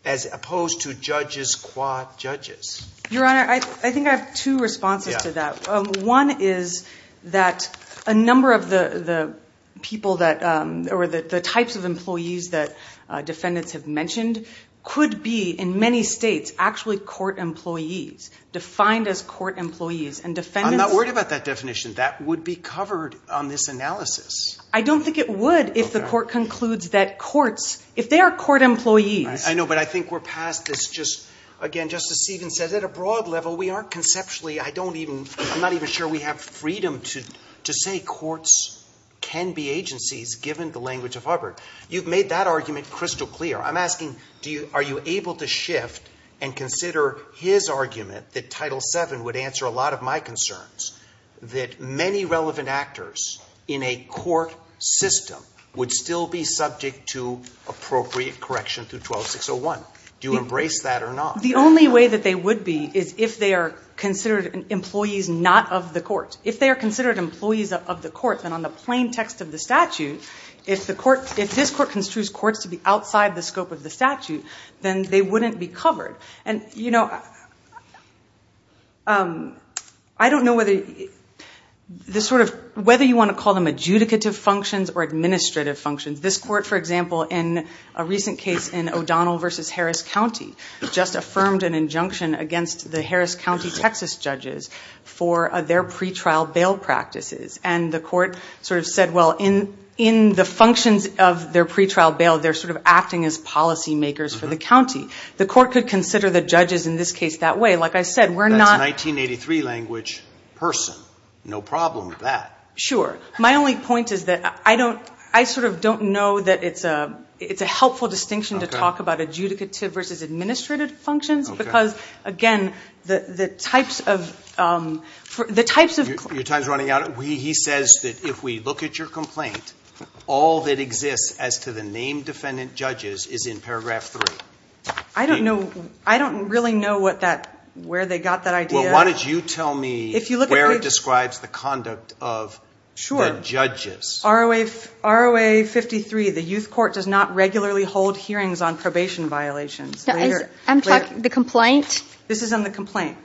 as opposed to judges qua judges. Your Honor, I think I have two responses to that. One is that a number of the people that, or the types of employees that defendants have mentioned, could be, in many states, actually court employees, defined as court employees, and defendants. I'm not worried about that definition. That would be covered on this analysis. I don't think it would if the court concludes that courts, if they are court employees. I know, but I think we're past this just, again, Justice Stevens says at a broad level we aren't conceptually, I'm not even sure we have freedom to say courts can be agencies, given the language of Hubbard. You've made that argument crystal clear. I'm asking, are you able to shift and consider his argument, that Title VII would answer a lot of my concerns, that many relevant actors in a court system would still be subject to appropriate correction through 12601? Do you embrace that or not? The only way that they would be is if they are considered employees not of the court. If they are considered employees of the court, then on the plain text of the statute, if this court construes courts to be outside the scope of the statute, then they wouldn't be covered. I don't know whether you want to call them adjudicative functions or administrative functions. This court, for example, in a recent case in O'Donnell v. Harris County, just affirmed an injunction against the Harris County, Texas judges, for their pretrial bail practices. And the court sort of said, well, in the functions of their pretrial bail, they're sort of acting as policy makers for the county. The court could consider the judges in this case that way. Like I said, we're not – That's a 1983 language person. No problem with that. Sure. My only point is that I sort of don't know that it's a helpful distinction to talk about adjudicative versus administrative functions, because, again, the types of – Your time is running out? He says that if we look at your complaint, all that exists as to the named defendant judges is in paragraph 3. I don't know. I don't really know where they got that idea. Well, why don't you tell me where it describes the conduct of the judges. Sure. ROA 53, the youth court does not regularly hold hearings on probation violations. I'm talking the complaint? This is on the complaint.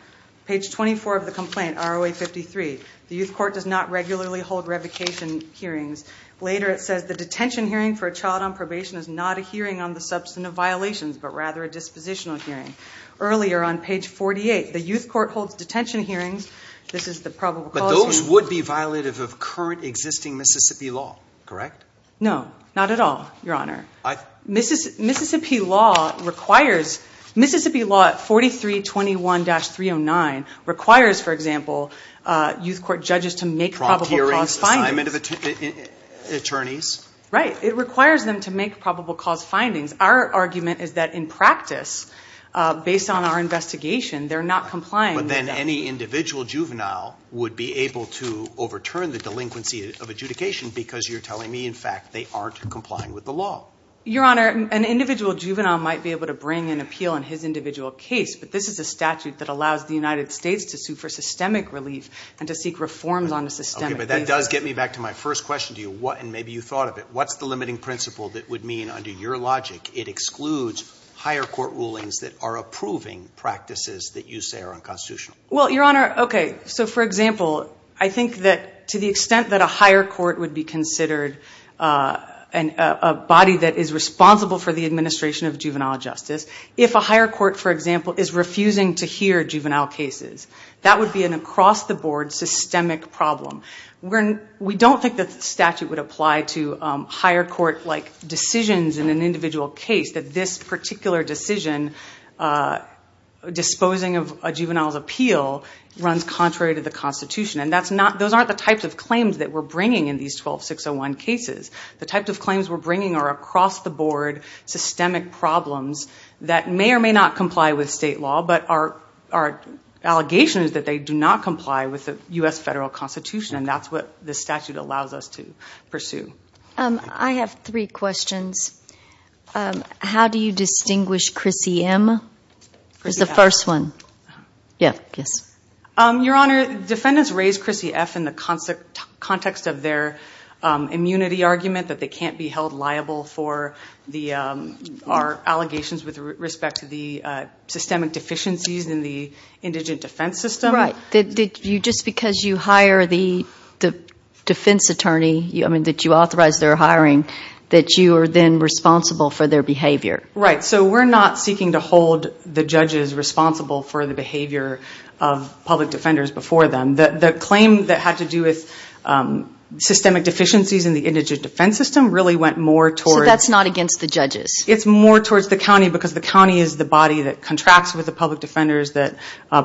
Page 24 of the complaint, ROA 53, the youth court does not regularly hold revocation hearings. Later it says the detention hearing for a child on probation is not a hearing on the substance of violations, but rather a dispositional hearing. Earlier on page 48, the youth court holds detention hearings. This is the probable cause here. But those would be violative of current existing Mississippi law, correct? No, not at all, Your Honor. Mississippi law requires, Mississippi law 4321-309 requires, for example, youth court judges to make probable cause findings. Assignment of attorneys. Right. It requires them to make probable cause findings. Our argument is that in practice, based on our investigation, they're not complying. But then any individual juvenile would be able to overturn the delinquency of adjudication because you're telling me, in fact, they aren't complying with the law. Your Honor, an individual juvenile might be able to bring an appeal in his individual case, but this is a statute that allows the United States to sue for systemic relief and to seek reforms on a systemic basis. Okay, but that does get me back to my first question to you, and maybe you thought of it. What's the limiting principle that would mean, under your logic, it excludes higher court rulings that are approving practices that you say are unconstitutional? Well, Your Honor, okay, so for example, I think that to the extent that a higher court would be considered a body that is responsible for the administration of juvenile justice, if a higher court, for example, is refusing to hear juvenile cases, that would be an across-the-board systemic problem. We don't think that the statute would apply to higher court-like decisions in an individual case, that this particular decision, disposing of a juvenile's appeal, runs contrary to the Constitution, and those aren't the types of claims that we're bringing in these 12601 cases. The types of claims we're bringing are across-the-board systemic problems that may or may not comply with state law, but our allegation is that they do not comply with the U.S. Federal Constitution, and that's what this statute allows us to pursue. I have three questions. How do you distinguish Chrissy M.? Who's the first one? Yes. Your Honor, defendants raise Chrissy F. in the context of their immunity argument, that they can't be held liable for our allegations with respect to the systemic deficiencies in the indigent defense system. Right. Just because you hire the defense attorney, I mean, that you authorize their hiring, that you are then responsible for their behavior. Right. So we're not seeking to hold the judges responsible for the behavior of public defenders before them. The claim that had to do with systemic deficiencies in the indigent defense system really went more towards... So that's not against the judges? It's more towards the county, because the county is the body that contracts with the public defenders, that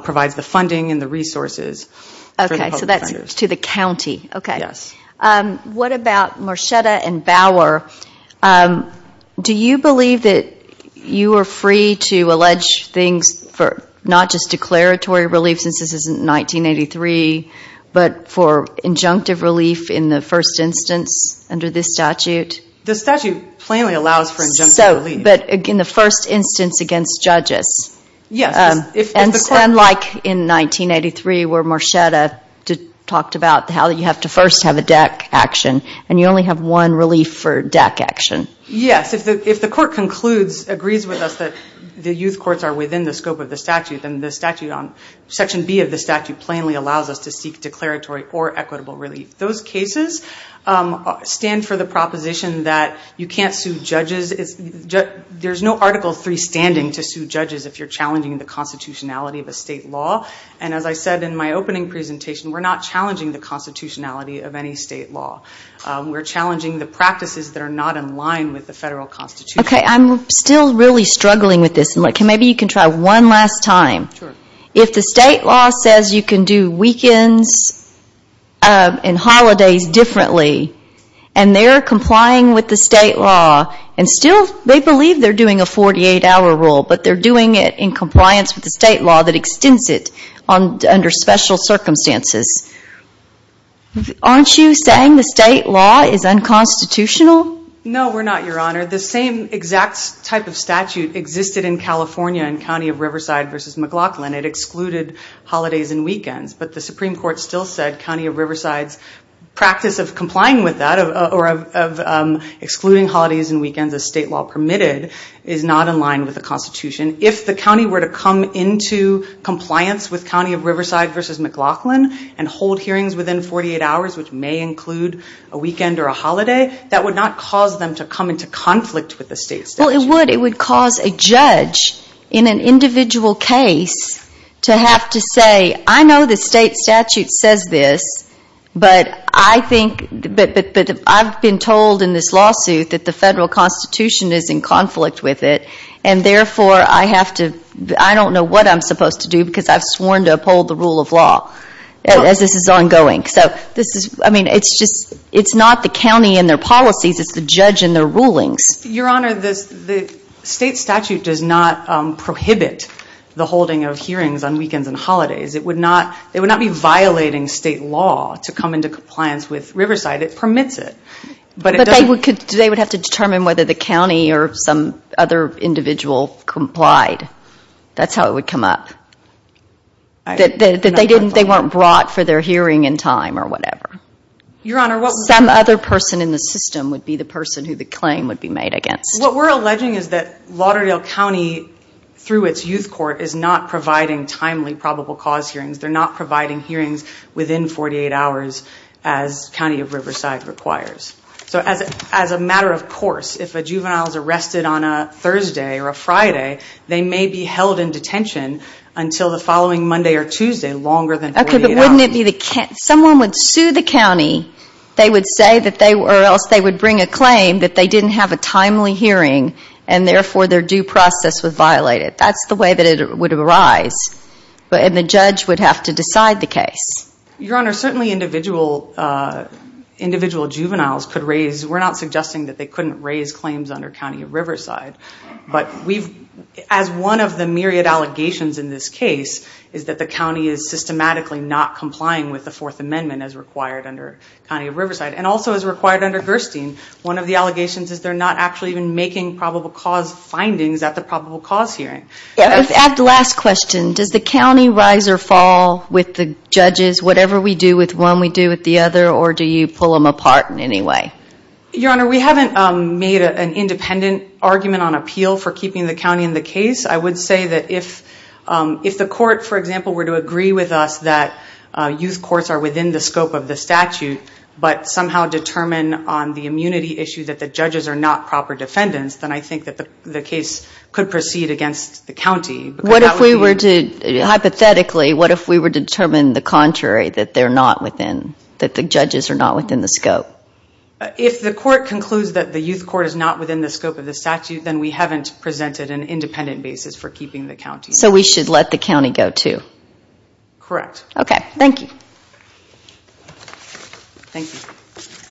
provides the funding and the resources for the public defenders. Okay. So that's to the county. Yes. What about Marchetta and Bauer? Do you believe that you are free to allege things for not just declaratory relief, since this is in 1983, but for injunctive relief in the first instance under this statute? The statute plainly allows for injunctive relief. But in the first instance against judges? Yes. And like in 1983 where Marchetta talked about how you have to first have a DAC action, and you only have one relief for DAC action. Yes. If the court concludes, agrees with us, that the youth courts are within the scope of the statute, then the section B of the statute plainly allows us to seek declaratory or equitable relief. Those cases stand for the proposition that you can't sue judges. There's no Article III standing to sue judges if you're challenging the constitutionality of a state law. And as I said in my opening presentation, we're not challenging the constitutionality of any state law. We're challenging the practices that are not in line with the federal constitution. Okay. I'm still really struggling with this. Maybe you can try one last time. Sure. If the state law says you can do weekends and holidays differently, and they're complying with the state law, and still they believe they're doing a 48-hour rule, but they're doing it in compliance with the state law that extends it under special circumstances, aren't you saying the state law is unconstitutional? No, we're not, Your Honor. The same exact type of statute existed in California in County of Riverside v. McLaughlin. It excluded holidays and weekends. But the Supreme Court still said County of Riverside's practice of complying with that, or of excluding holidays and weekends as state law permitted, is not in line with the constitution. If the county were to come into compliance with County of Riverside v. McLaughlin and hold hearings within 48 hours, which may include a weekend or a holiday, that would not cause them to come into conflict with the state statute. Well, it would. It would cause a judge in an individual case to have to say, I know the state statute says this, but I've been told in this lawsuit that the federal constitution is in conflict with it, and therefore I have to, I don't know what I'm supposed to do because I've sworn to uphold the rule of law as this is ongoing. So this is, I mean, it's just, it's not the county and their policies, it's the judge and their rulings. Your Honor, the state statute does not prohibit the holding of hearings on weekends and holidays. It would not, it would not be violating state law to come into compliance with Riverside. It permits it, but it doesn't. They would have to determine whether the county or some other individual complied. That's how it would come up. That they weren't brought for their hearing in time or whatever. Some other person in the system would be the person who the claim would be made against. What we're alleging is that Lauderdale County, through its youth court, is not providing timely probable cause hearings. They're not providing hearings within 48 hours as County of Riverside requires. So as a matter of course, if a juvenile is arrested on a Thursday or a Friday, they may be held in detention until the following Monday or Tuesday, longer than 48 hours. Okay, but wouldn't it be the, someone would sue the county, they would say that they, or else they would bring a claim that they didn't have a timely hearing and therefore their due process was violated. That's the way that it would arise. And the judge would have to decide the case. Your Honor, certainly individual juveniles could raise, we're not suggesting that they couldn't raise claims under County of Riverside. But we've, as one of the myriad allegations in this case, is that the county is systematically not complying with the Fourth Amendment as required under County of Riverside. And also as required under Gerstein. One of the allegations is they're not actually even making probable cause findings at the probable cause hearing. I'd like to ask the last question. Does the county rise or fall with the judges, whatever we do with one, we do with the other, or do you pull them apart in any way? Your Honor, we haven't made an independent argument on appeal for keeping the county in the case. I would say that if the court, for example, were to agree with us that youth courts are within the scope of the statute but somehow determine on the immunity issue that the judges are not proper defendants, then I think that the case could proceed against the county. What if we were to, hypothetically, what if we were to determine the contrary, that they're not within, that the judges are not within the scope? If the court concludes that the youth court is not within the scope of the statute, then we haven't presented an independent basis for keeping the county. So we should let the county go too? Correct. Okay. Thank you. Thank you.